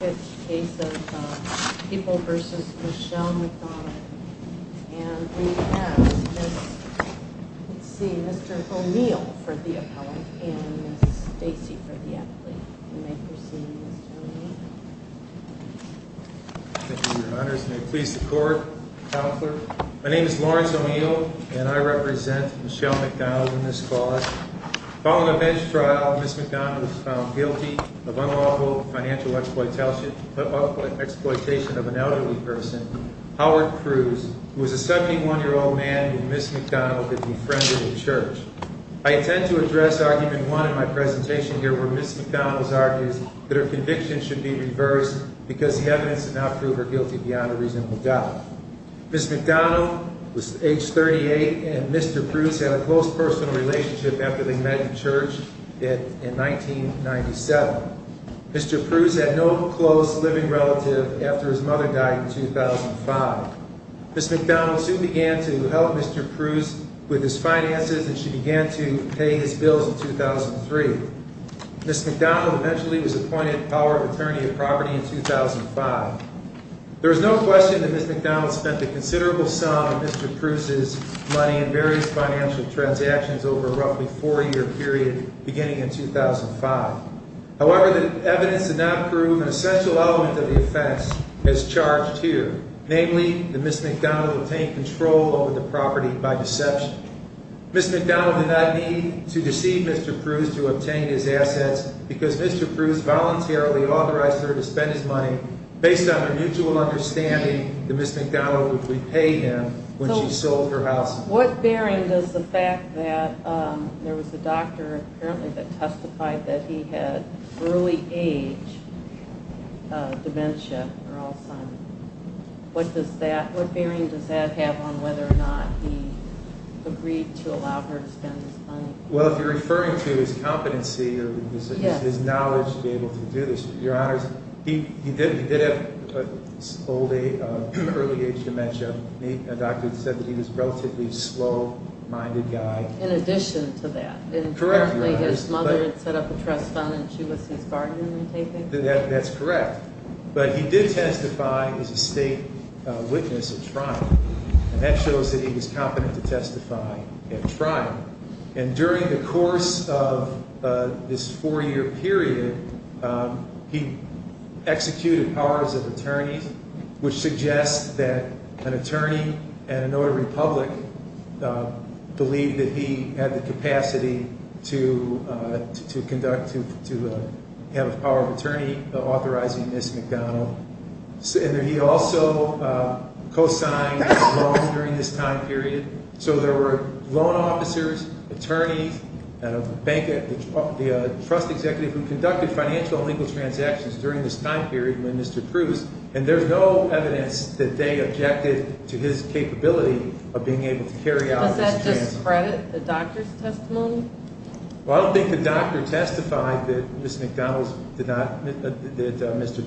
This case is People v. Michelle McDonald and we have Mr. O'Neal for the appellate and Ms. Stacey for the athlete. You may proceed, Mr. O'Neal. Thank you, Your Honors. May it please the Court, Counselor. My name is Lawrence O'Neal and I represent Michelle McDonald in this cause. Following a bench trial, Ms. McDonald was found guilty of unlawful financial exploitation of an elderly person, Howard Cruz, who was a 71-year-old man who Ms. McDonald had befriended at church. I intend to address Argument 1 in my presentation here where Ms. McDonald argues that her conviction should be reversed because the evidence did not prove her guilty beyond a reasonable doubt. Ms. McDonald was age 38 and Mr. Cruz had a close personal relationship after they met in church in 1997. Mr. Cruz had no close living relative after his mother died in 2005. Ms. McDonald soon began to help Mr. Cruz with his finances and she began to pay his bills in 2003. Ms. McDonald eventually was appointed Power of Attorney of Property in 2005. There is no question that Ms. McDonald spent a considerable sum of Mr. Cruz's money in various financial transactions over a roughly four-year period beginning in 2005. However, the evidence did not prove an essential element of the offense as charged here, namely that Ms. McDonald obtained control over the property by deception. Ms. McDonald did not need to deceive Mr. Cruz to obtain his assets because Mr. Cruz voluntarily authorized her to spend his money based on her mutual understanding that Ms. McDonald would repay him when she sold her house. What bearing does the fact that there was a doctor apparently that testified that he had early age dementia or Alzheimer's, what bearing does that have on whether or not he agreed to allow her to spend his money? Well, if you're referring to his competency or his knowledge to be able to do this, Your Honors, he did have early age dementia. A doctor said that he was a relatively slow-minded guy. In addition to that? Correct, Your Honors. And apparently his mother had set up a trust fund and she was his guardian in taking care of him? That's correct. But he did testify as a state witness at trial, and that shows that he was competent to testify at trial. And during the course of this four-year period, he executed powers of attorney, which suggests that an attorney at a notary public believed that he had the capacity to have a power of attorney authorizing Ms. McDonald. And he also co-signed a loan during this time period. So there were loan officers, attorneys, the trust executive who conducted financial and legal transactions during this time period with Mr. Cruz, and there's no evidence that they objected to his capability of being able to carry out his transactions. Does that discredit the doctor's testimony? Well, I don't think the doctor testified that Mr.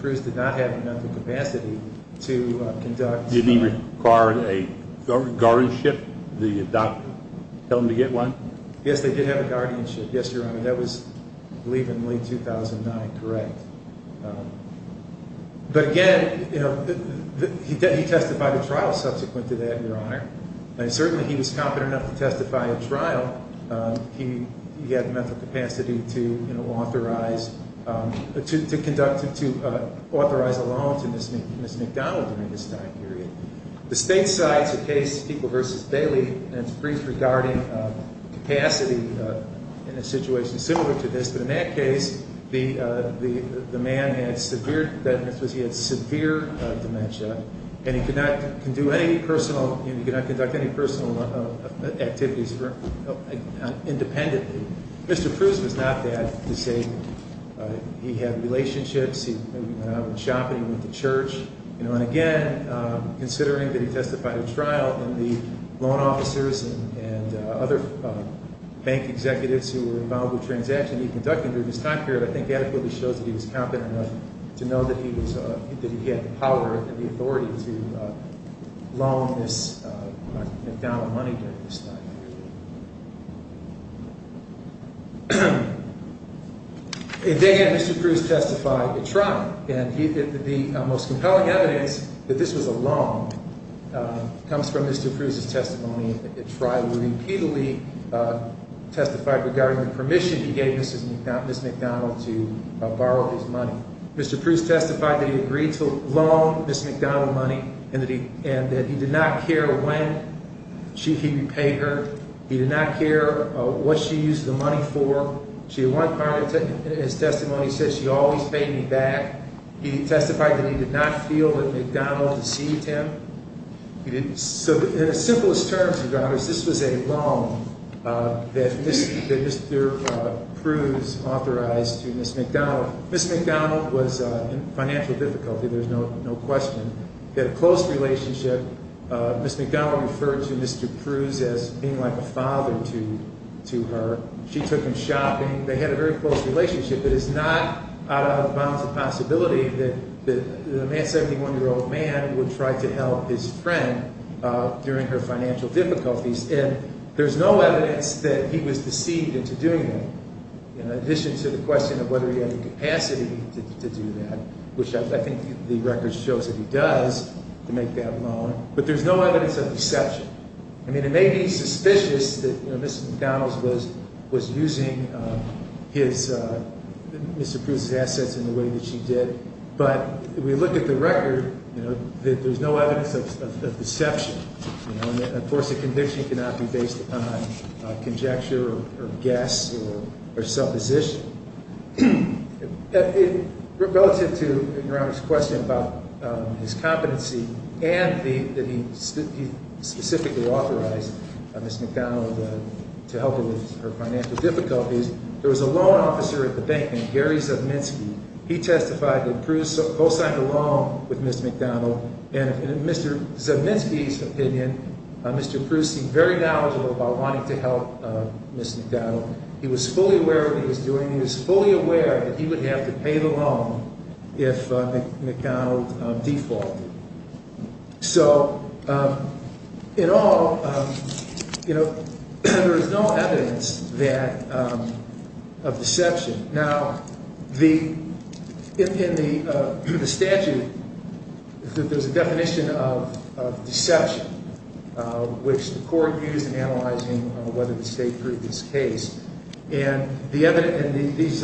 Cruz did not have the mental capacity to conduct… Did he require a guardianship? Did the doctor tell him to get one? Yes, they did have a guardianship. Yes, Your Honor, that was, I believe, in late 2009. Correct. And certainly he was competent enough to testify at trial. He had the mental capacity to authorize a loan to Ms. McDonald during this time period. The state side's case, People v. Bailey, and it's brief regarding capacity in a situation similar to this. But in that case, the man had severe, he had severe dementia, and he could not conduct any personal activities independently. Mr. Cruz was not bad. He had relationships. He went out shopping. He went to church. And again, considering that he testified at trial, and the loan officers and other bank executives who were involved with transactions he conducted during this time period, I think adequately shows that he was competent enough to know that he had the power and the authority to loan Ms. McDonald money during this time period. They had Mr. Cruz testify at trial, and the most compelling evidence that this was a loan comes from Mr. Cruz's testimony at trial. He repeatedly testified regarding the permission he gave Ms. McDonald to borrow his money. Mr. Cruz testified that he agreed to loan Ms. McDonald money and that he did not care when he repaid her. He did not care what she used the money for. She at one point in his testimony said, she always paid me back. He testified that he did not feel that McDonald deceived him. So in the simplest terms, this was a loan that Mr. Cruz authorized to Ms. McDonald. Ms. McDonald was in financial difficulty, there's no question. They had a close relationship. Ms. McDonald referred to Mr. Cruz as being like a father to her. She took him shopping. They had a very close relationship. It is not out of the bounds of possibility that a 71-year-old man would try to help his friend during her financial difficulties. And there's no evidence that he was deceived into doing that, in addition to the question of whether he had the capacity to do that, which I think the record shows that he does, to make that loan. But there's no evidence of deception. I mean, it may be suspicious that Ms. McDonald was using Mr. Cruz's assets in the way that she did, but we look at the record, there's no evidence of deception. Of course, a conviction cannot be based upon conjecture or guess or supposition. Relative to Your Honor's question about his competency and that he specifically authorized Ms. McDonald to help him with her financial difficulties, there was a loan officer at the bank named Gary Zubminsky. He testified that Cruz co-signed a loan with Ms. McDonald, and in Mr. Zubminsky's opinion, Mr. Cruz seemed very knowledgeable about wanting to help Ms. McDonald. He was fully aware of what he was doing. He was fully aware that he would have to pay the loan if Ms. McDonald defaulted. So, in all, there is no evidence of deception. Now, in the statute, there's a definition of deception, which the court used in analyzing whether the state proved his case. And these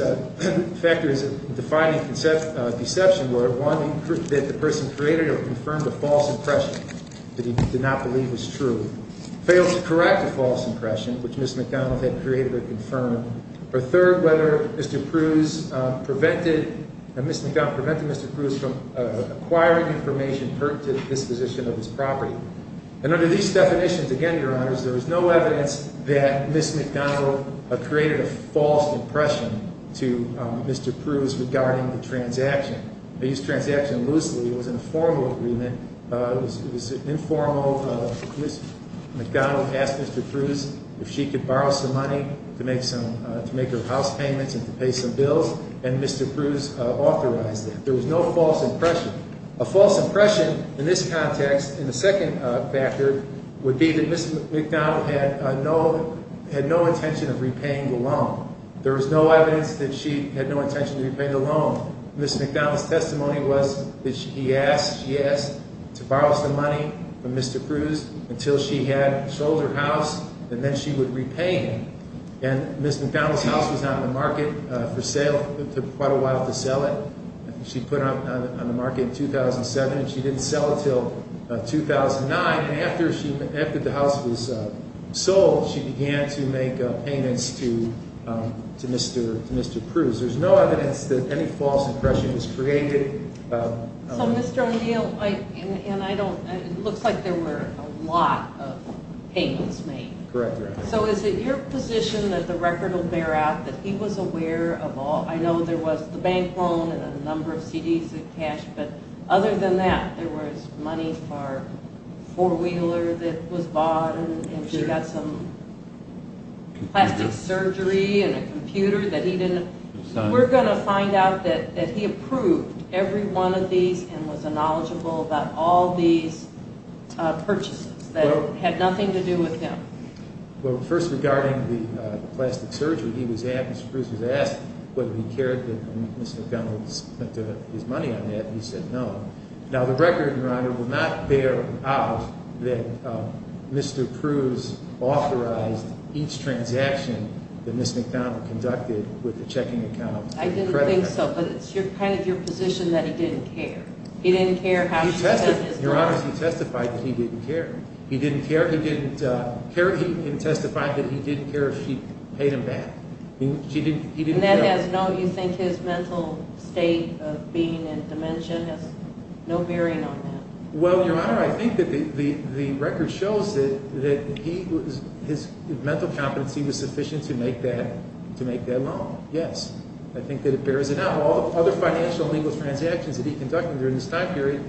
factors defining deception were, one, that the person created or confirmed a false impression that he did not believe was true, failed to correct a false impression, which Ms. McDonald had created or confirmed, or third, whether Ms. McDonald prevented Mr. Cruz from acquiring information pertinent to the disposition of his property. And under these definitions, again, Your Honors, there was no evidence that Ms. McDonald created a false impression to Mr. Cruz regarding the transaction. They used transaction loosely. It was an informal agreement. It was informal. Ms. McDonald asked Mr. Cruz if she could borrow some money to make her house payments and to pay some bills, and Mr. Cruz authorized that. There was no false impression. A false impression in this context, in the second factor, would be that Ms. McDonald had no intention of repaying the loan. There was no evidence that she had no intention of repaying the loan. Ms. McDonald's testimony was that he asked, she asked to borrow some money from Mr. Cruz until she had sold her house, and then she would repay him. And Ms. McDonald's house was not in the market for sale. It took quite a while to sell it. She put it on the market in 2007, and she didn't sell it until 2009. And after the house was sold, she began to make payments to Mr. Cruz. There's no evidence that any false impression was created. So, Mr. O'Neill, and I don't, it looks like there were a lot of payments made. Correct, Your Honor. So is it your position that the record will bear out that he was aware of all, I know there was the bank loan and a number of CDs of cash, but other than that, there was money for a four-wheeler that was bought and she got some plastic surgery and a computer that he didn't, we're going to find out that he approved every one of these and was knowledgeable about all these purchases that had nothing to do with him. Well, first regarding the plastic surgery, Mr. Cruz was asked whether he cared that Ms. McDonald spent his money on that. He said no. Now, the record, Your Honor, will not bear out that Mr. Cruz authorized each transaction that Ms. McDonald conducted with the checking account. I didn't think so, but it's kind of your position that he didn't care. He didn't care how she spent his money. Your Honor, he testified that he didn't care. He didn't care. He didn't testify that he didn't care if she paid him back. He didn't care. And that has no, you think his mental state of being in dementia has no bearing on that? Well, Your Honor, I think that the record shows that his mental competency was sufficient to make that loan. Yes. I think that it bears it out. All the other financial legal transactions that he conducted during this time period,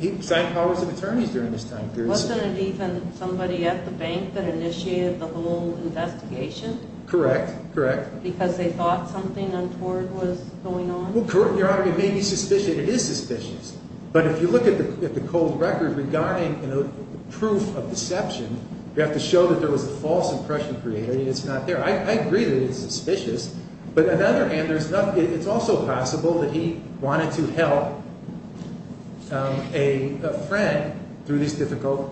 he signed powers of attorneys during this time period. Wasn't it even somebody at the bank that initiated the whole investigation? Correct, correct. Because they thought something untoward was going on? Well, correct, Your Honor. It may be suspicious. It is suspicious. But if you look at the cold record regarding proof of deception, you have to show that there was a false impression created and it's not there. I agree that it's suspicious. But on the other hand, it's also possible that he wanted to help a friend through these difficult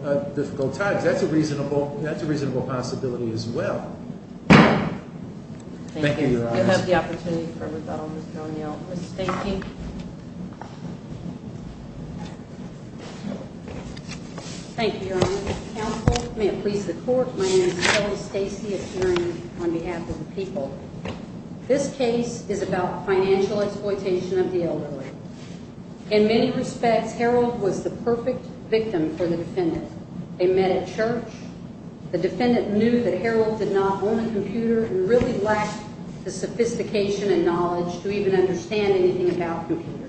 times. That's a reasonable possibility as well. Thank you, Your Honor. Thank you. We have the opportunity for rebuttal. Ms. O'Neill is thanking. Thank you, Your Honor. Counsel, may it please the Court, my name is Kelly Stacy. I'm here on behalf of the people. This case is about financial exploitation of the elderly. In many respects, Harold was the perfect victim for the defendant. They met at church. The defendant knew that Harold did not own a computer and really lacked the sophistication and knowledge to even understand anything about computers.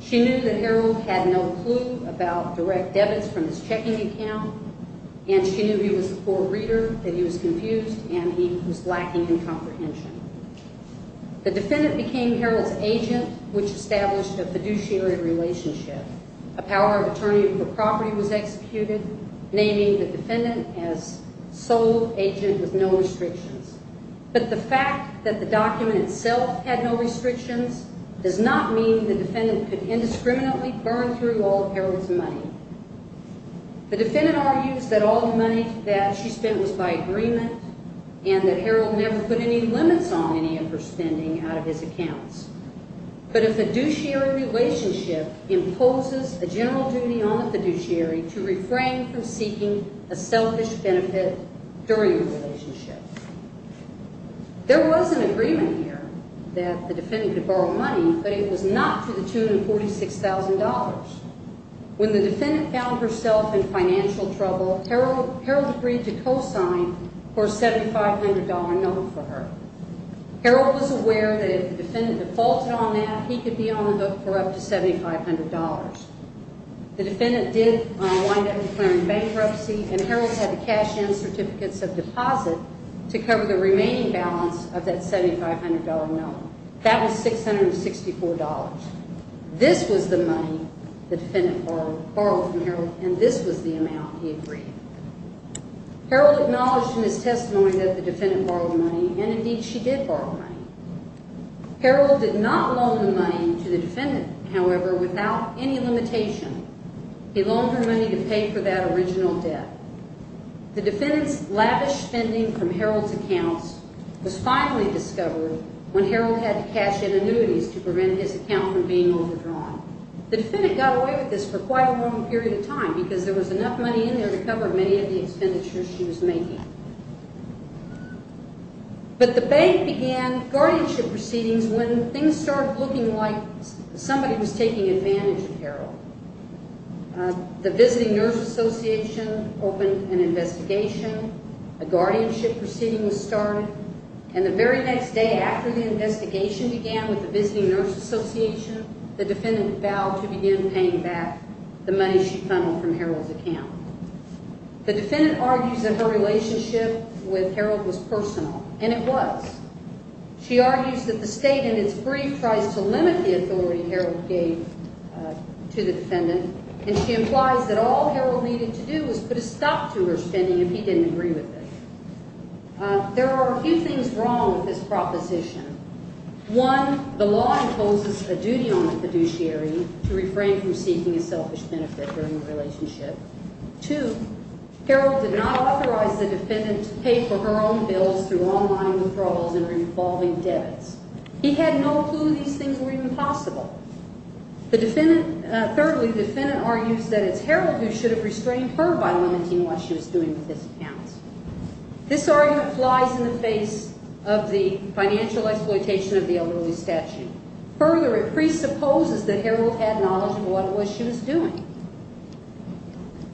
She knew that Harold had no clue about direct debits from his checking account, and she knew he was a poor reader, that he was confused, and he was lacking in comprehension. The defendant became Harold's agent, which established a fiduciary relationship. A power of attorney for property was executed, naming the defendant as sole agent with no restrictions. But the fact that the document itself had no restrictions does not mean the defendant could indiscriminately burn through all of Harold's money. The defendant argues that all the money that she spent was by agreement, and that Harold never put any limits on any of her spending out of his accounts. But a fiduciary relationship imposes a general duty on the fiduciary to refrain from seeking a selfish benefit during the relationship. There was an agreement here that the defendant could borrow money, but it was not to the tune of $46,000. When the defendant found herself in financial trouble, Harold agreed to co-sign for a $7,500 note for her. Harold was aware that if the defendant defaulted on that, he could be on the hook for up to $7,500. The defendant did wind up declaring bankruptcy, and Harold had to cash in certificates of deposit to cover the remaining balance of that $7,500 note. That was $664. This was the money the defendant borrowed from Harold, and this was the amount he agreed. Harold acknowledged in his testimony that the defendant borrowed money, and indeed she did borrow money. Harold did not loan the money to the defendant, however, without any limitation. He loaned her money to pay for that original debt. The defendant's lavish spending from Harold's accounts was finally discovered when Harold had to cash in annuities to prevent his account from being overdrawn. The defendant got away with this for quite a long period of time because there was enough money in there to cover many of the expenditures she was making. But the bank began guardianship proceedings when things started looking like somebody was taking advantage of Harold. The Visiting Nurse Association opened an investigation. A guardianship proceeding was started, and the very next day after the investigation began with the Visiting Nurse Association, the defendant vowed to begin paying back the money she funneled from Harold's account. The defendant argues that her relationship with Harold was personal, and it was. She argues that the state in its brief tries to limit the authority Harold gave to the defendant, and she implies that all Harold needed to do was put a stop to her spending if he didn't agree with it. There are a few things wrong with this proposition. One, the law imposes a duty on the fiduciary to refrain from seeking a selfish benefit during a relationship. Two, Harold did not authorize the defendant to pay for her own bills through online withdrawals and revolving debits. He had no clue these things were even possible. Thirdly, the defendant argues that it's Harold who should have restrained her by limiting what she was doing with his accounts. This argument flies in the face of the financial exploitation of the elderly statute. Further, it presupposes that Harold had knowledge of what it was she was doing.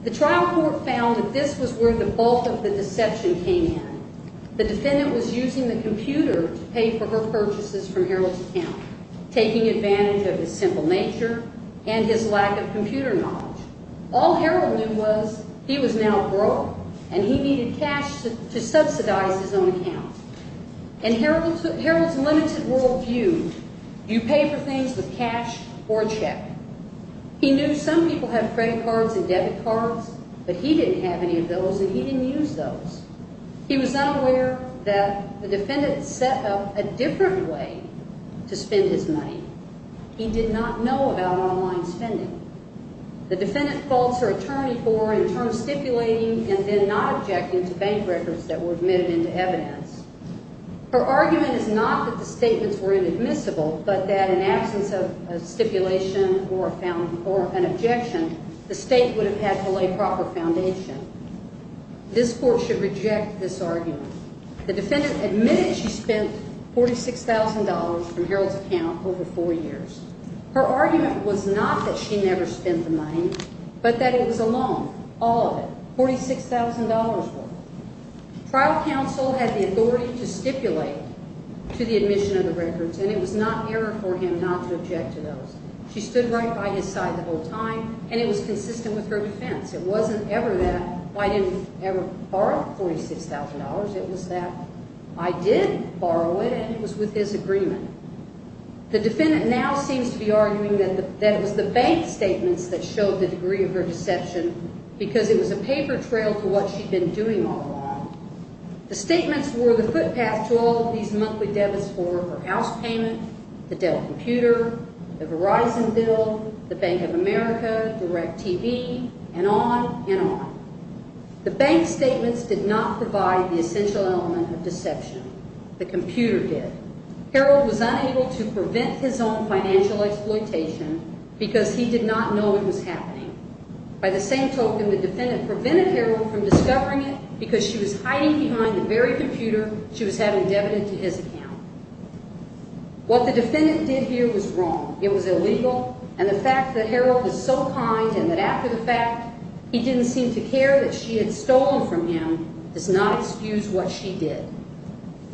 The trial court found that this was where the bulk of the deception came in. The defendant was using the computer to pay for her purchases from Harold's account, taking advantage of his simple nature and his lack of computer knowledge. All Harold knew was he was now broke, and he needed cash to subsidize his own account. In Harold's limited world view, you pay for things with cash or a check. He knew some people have credit cards and debit cards, but he didn't have any of those, and he didn't use those. He was not aware that the defendant set up a different way to spend his money. He did not know about online spending. The defendant faults her attorney for, in turn, stipulating and then not objecting to bank records that were admitted into evidence. Her argument is not that the statements were inadmissible, but that in absence of a stipulation or an objection, the state would have had to lay proper foundation. This court should reject this argument. The defendant admitted she spent $46,000 from Harold's account over four years. Her argument was not that she never spent the money, but that it was a loan, all of it, $46,000 worth. Trial counsel had the authority to stipulate to the admission of the records, and it was not error for him not to object to those. She stood right by his side the whole time, and it was consistent with her defense. It wasn't ever that I didn't ever borrow $46,000. It was that I did borrow it, and it was with his agreement. The defendant now seems to be arguing that it was the bank statements that showed the degree of her deception because it was a paper trail to what she'd been doing all along. The statements were the footpath to all of these monthly debits for her house payment, the Dell computer, the Verizon bill, the Bank of America, DirecTV, and on and on. The bank statements did not provide the essential element of deception. The computer did. Harold was unable to prevent his own financial exploitation because he did not know it was happening. By the same token, the defendant prevented Harold from discovering it because she was hiding behind the very computer she was having debited to his account. What the defendant did here was wrong. It was illegal, and the fact that Harold was so kind and that after the fact, he didn't seem to care that she had stolen from him does not excuse what she did.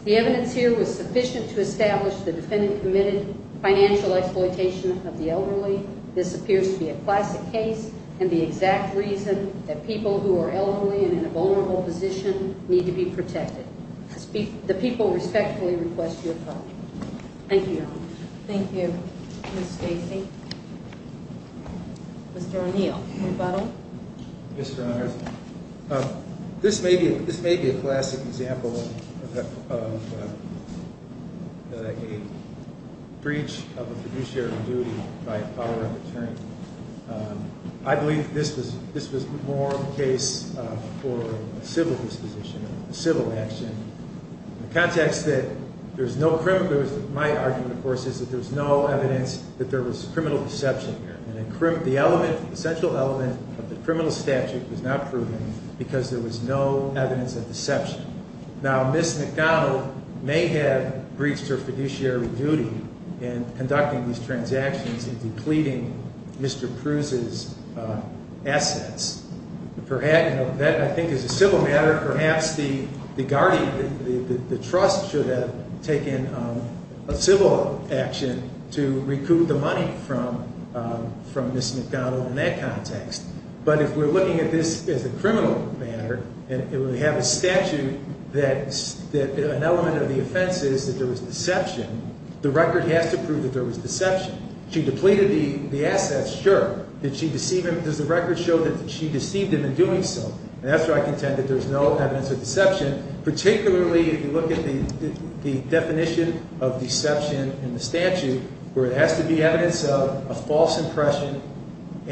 The evidence here was sufficient to establish the defendant committed financial exploitation of the elderly. This appears to be a classic case and the exact reason that people who are elderly and in a vulnerable position need to be protected. The people respectfully request your pardon. Thank you, Your Honor. Thank you, Ms. Stacy. Mr. O'Neill, rebuttal. Yes, Your Honor. This may be a classic example of a breach of a fiduciary duty by a power of attorney. I believe this was more of a case for a civil disposition, a civil action. In the context that there's no criminal, my argument, of course, is that there's no evidence that there was criminal deception here. The central element of the criminal statute was not proven because there was no evidence of deception. Now, Ms. McDonald may have breached her fiduciary duty in conducting these transactions and depleting Mr. Pruse's assets. That, I think, is a civil matter. Perhaps the guardian, the trust, should have taken a civil action to recoup the money from Ms. McDonald in that context. But if we're looking at this as a criminal matter and we have a statute that an element of the offense is that there was deception, the record has to prove that there was deception. She depleted the assets, sure. Did she deceive him? Does the record show that she deceived him in doing so? And that's where I contend that there's no evidence of deception, particularly if you look at the definition of deception in the statute, where it has to be evidence of a false impression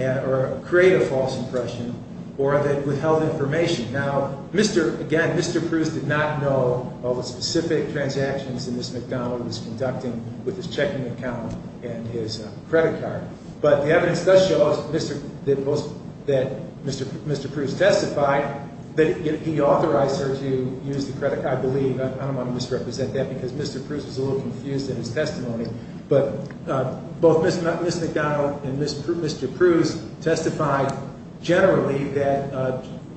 or a creative false impression or that it withheld information. Now, again, Mr. Pruse did not know of the specific transactions that Ms. McDonald was conducting with his checking account and his credit card. But the evidence does show that Mr. Pruse testified that he authorized her to use the credit card, I believe. I don't want to misrepresent that because Mr. Pruse was a little confused in his testimony. But both Ms. McDonald and Mr. Pruse testified generally that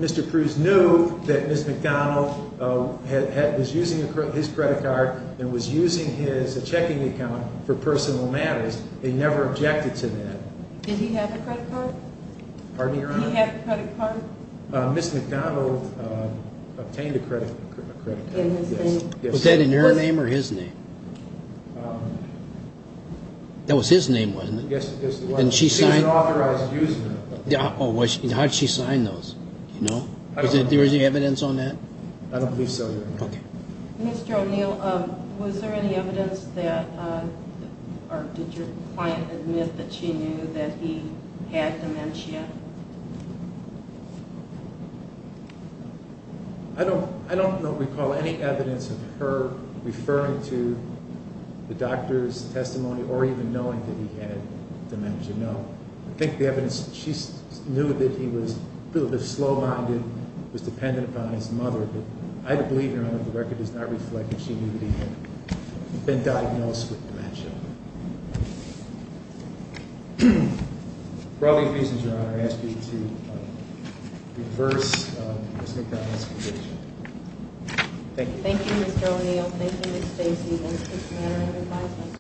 Mr. Pruse knew that Ms. McDonald was using his credit card and was using his checking account for personal matters. They never objected to that. Did he have a credit card? Pardon me, Your Honor? Did he have a credit card? Ms. McDonald obtained a credit card. In his name? Yes. Was that in her name or his name? That was his name, wasn't it? Yes, it was. And she signed? She didn't authorize using it. How did she sign those? Do you know? I don't know. Was there any evidence on that? I don't believe so, Your Honor. Okay. Mr. O'Neill, was there any evidence that, or did your client admit that she knew that he had dementia? I don't recall any evidence of her referring to the doctor's testimony or even knowing that he had dementia. No. I think the evidence, she knew that he was a little bit slow-minded, was dependent upon his mother. But I believe, Your Honor, the record does not reflect that she knew that he had been diagnosed with dementia. For all these reasons, Your Honor, I ask you to reverse Ms. McDonald's conviction. Thank you. Thank you, Mr. O'Neill. Thank you, Ms. Stacy. Thank you for this manner of advisement.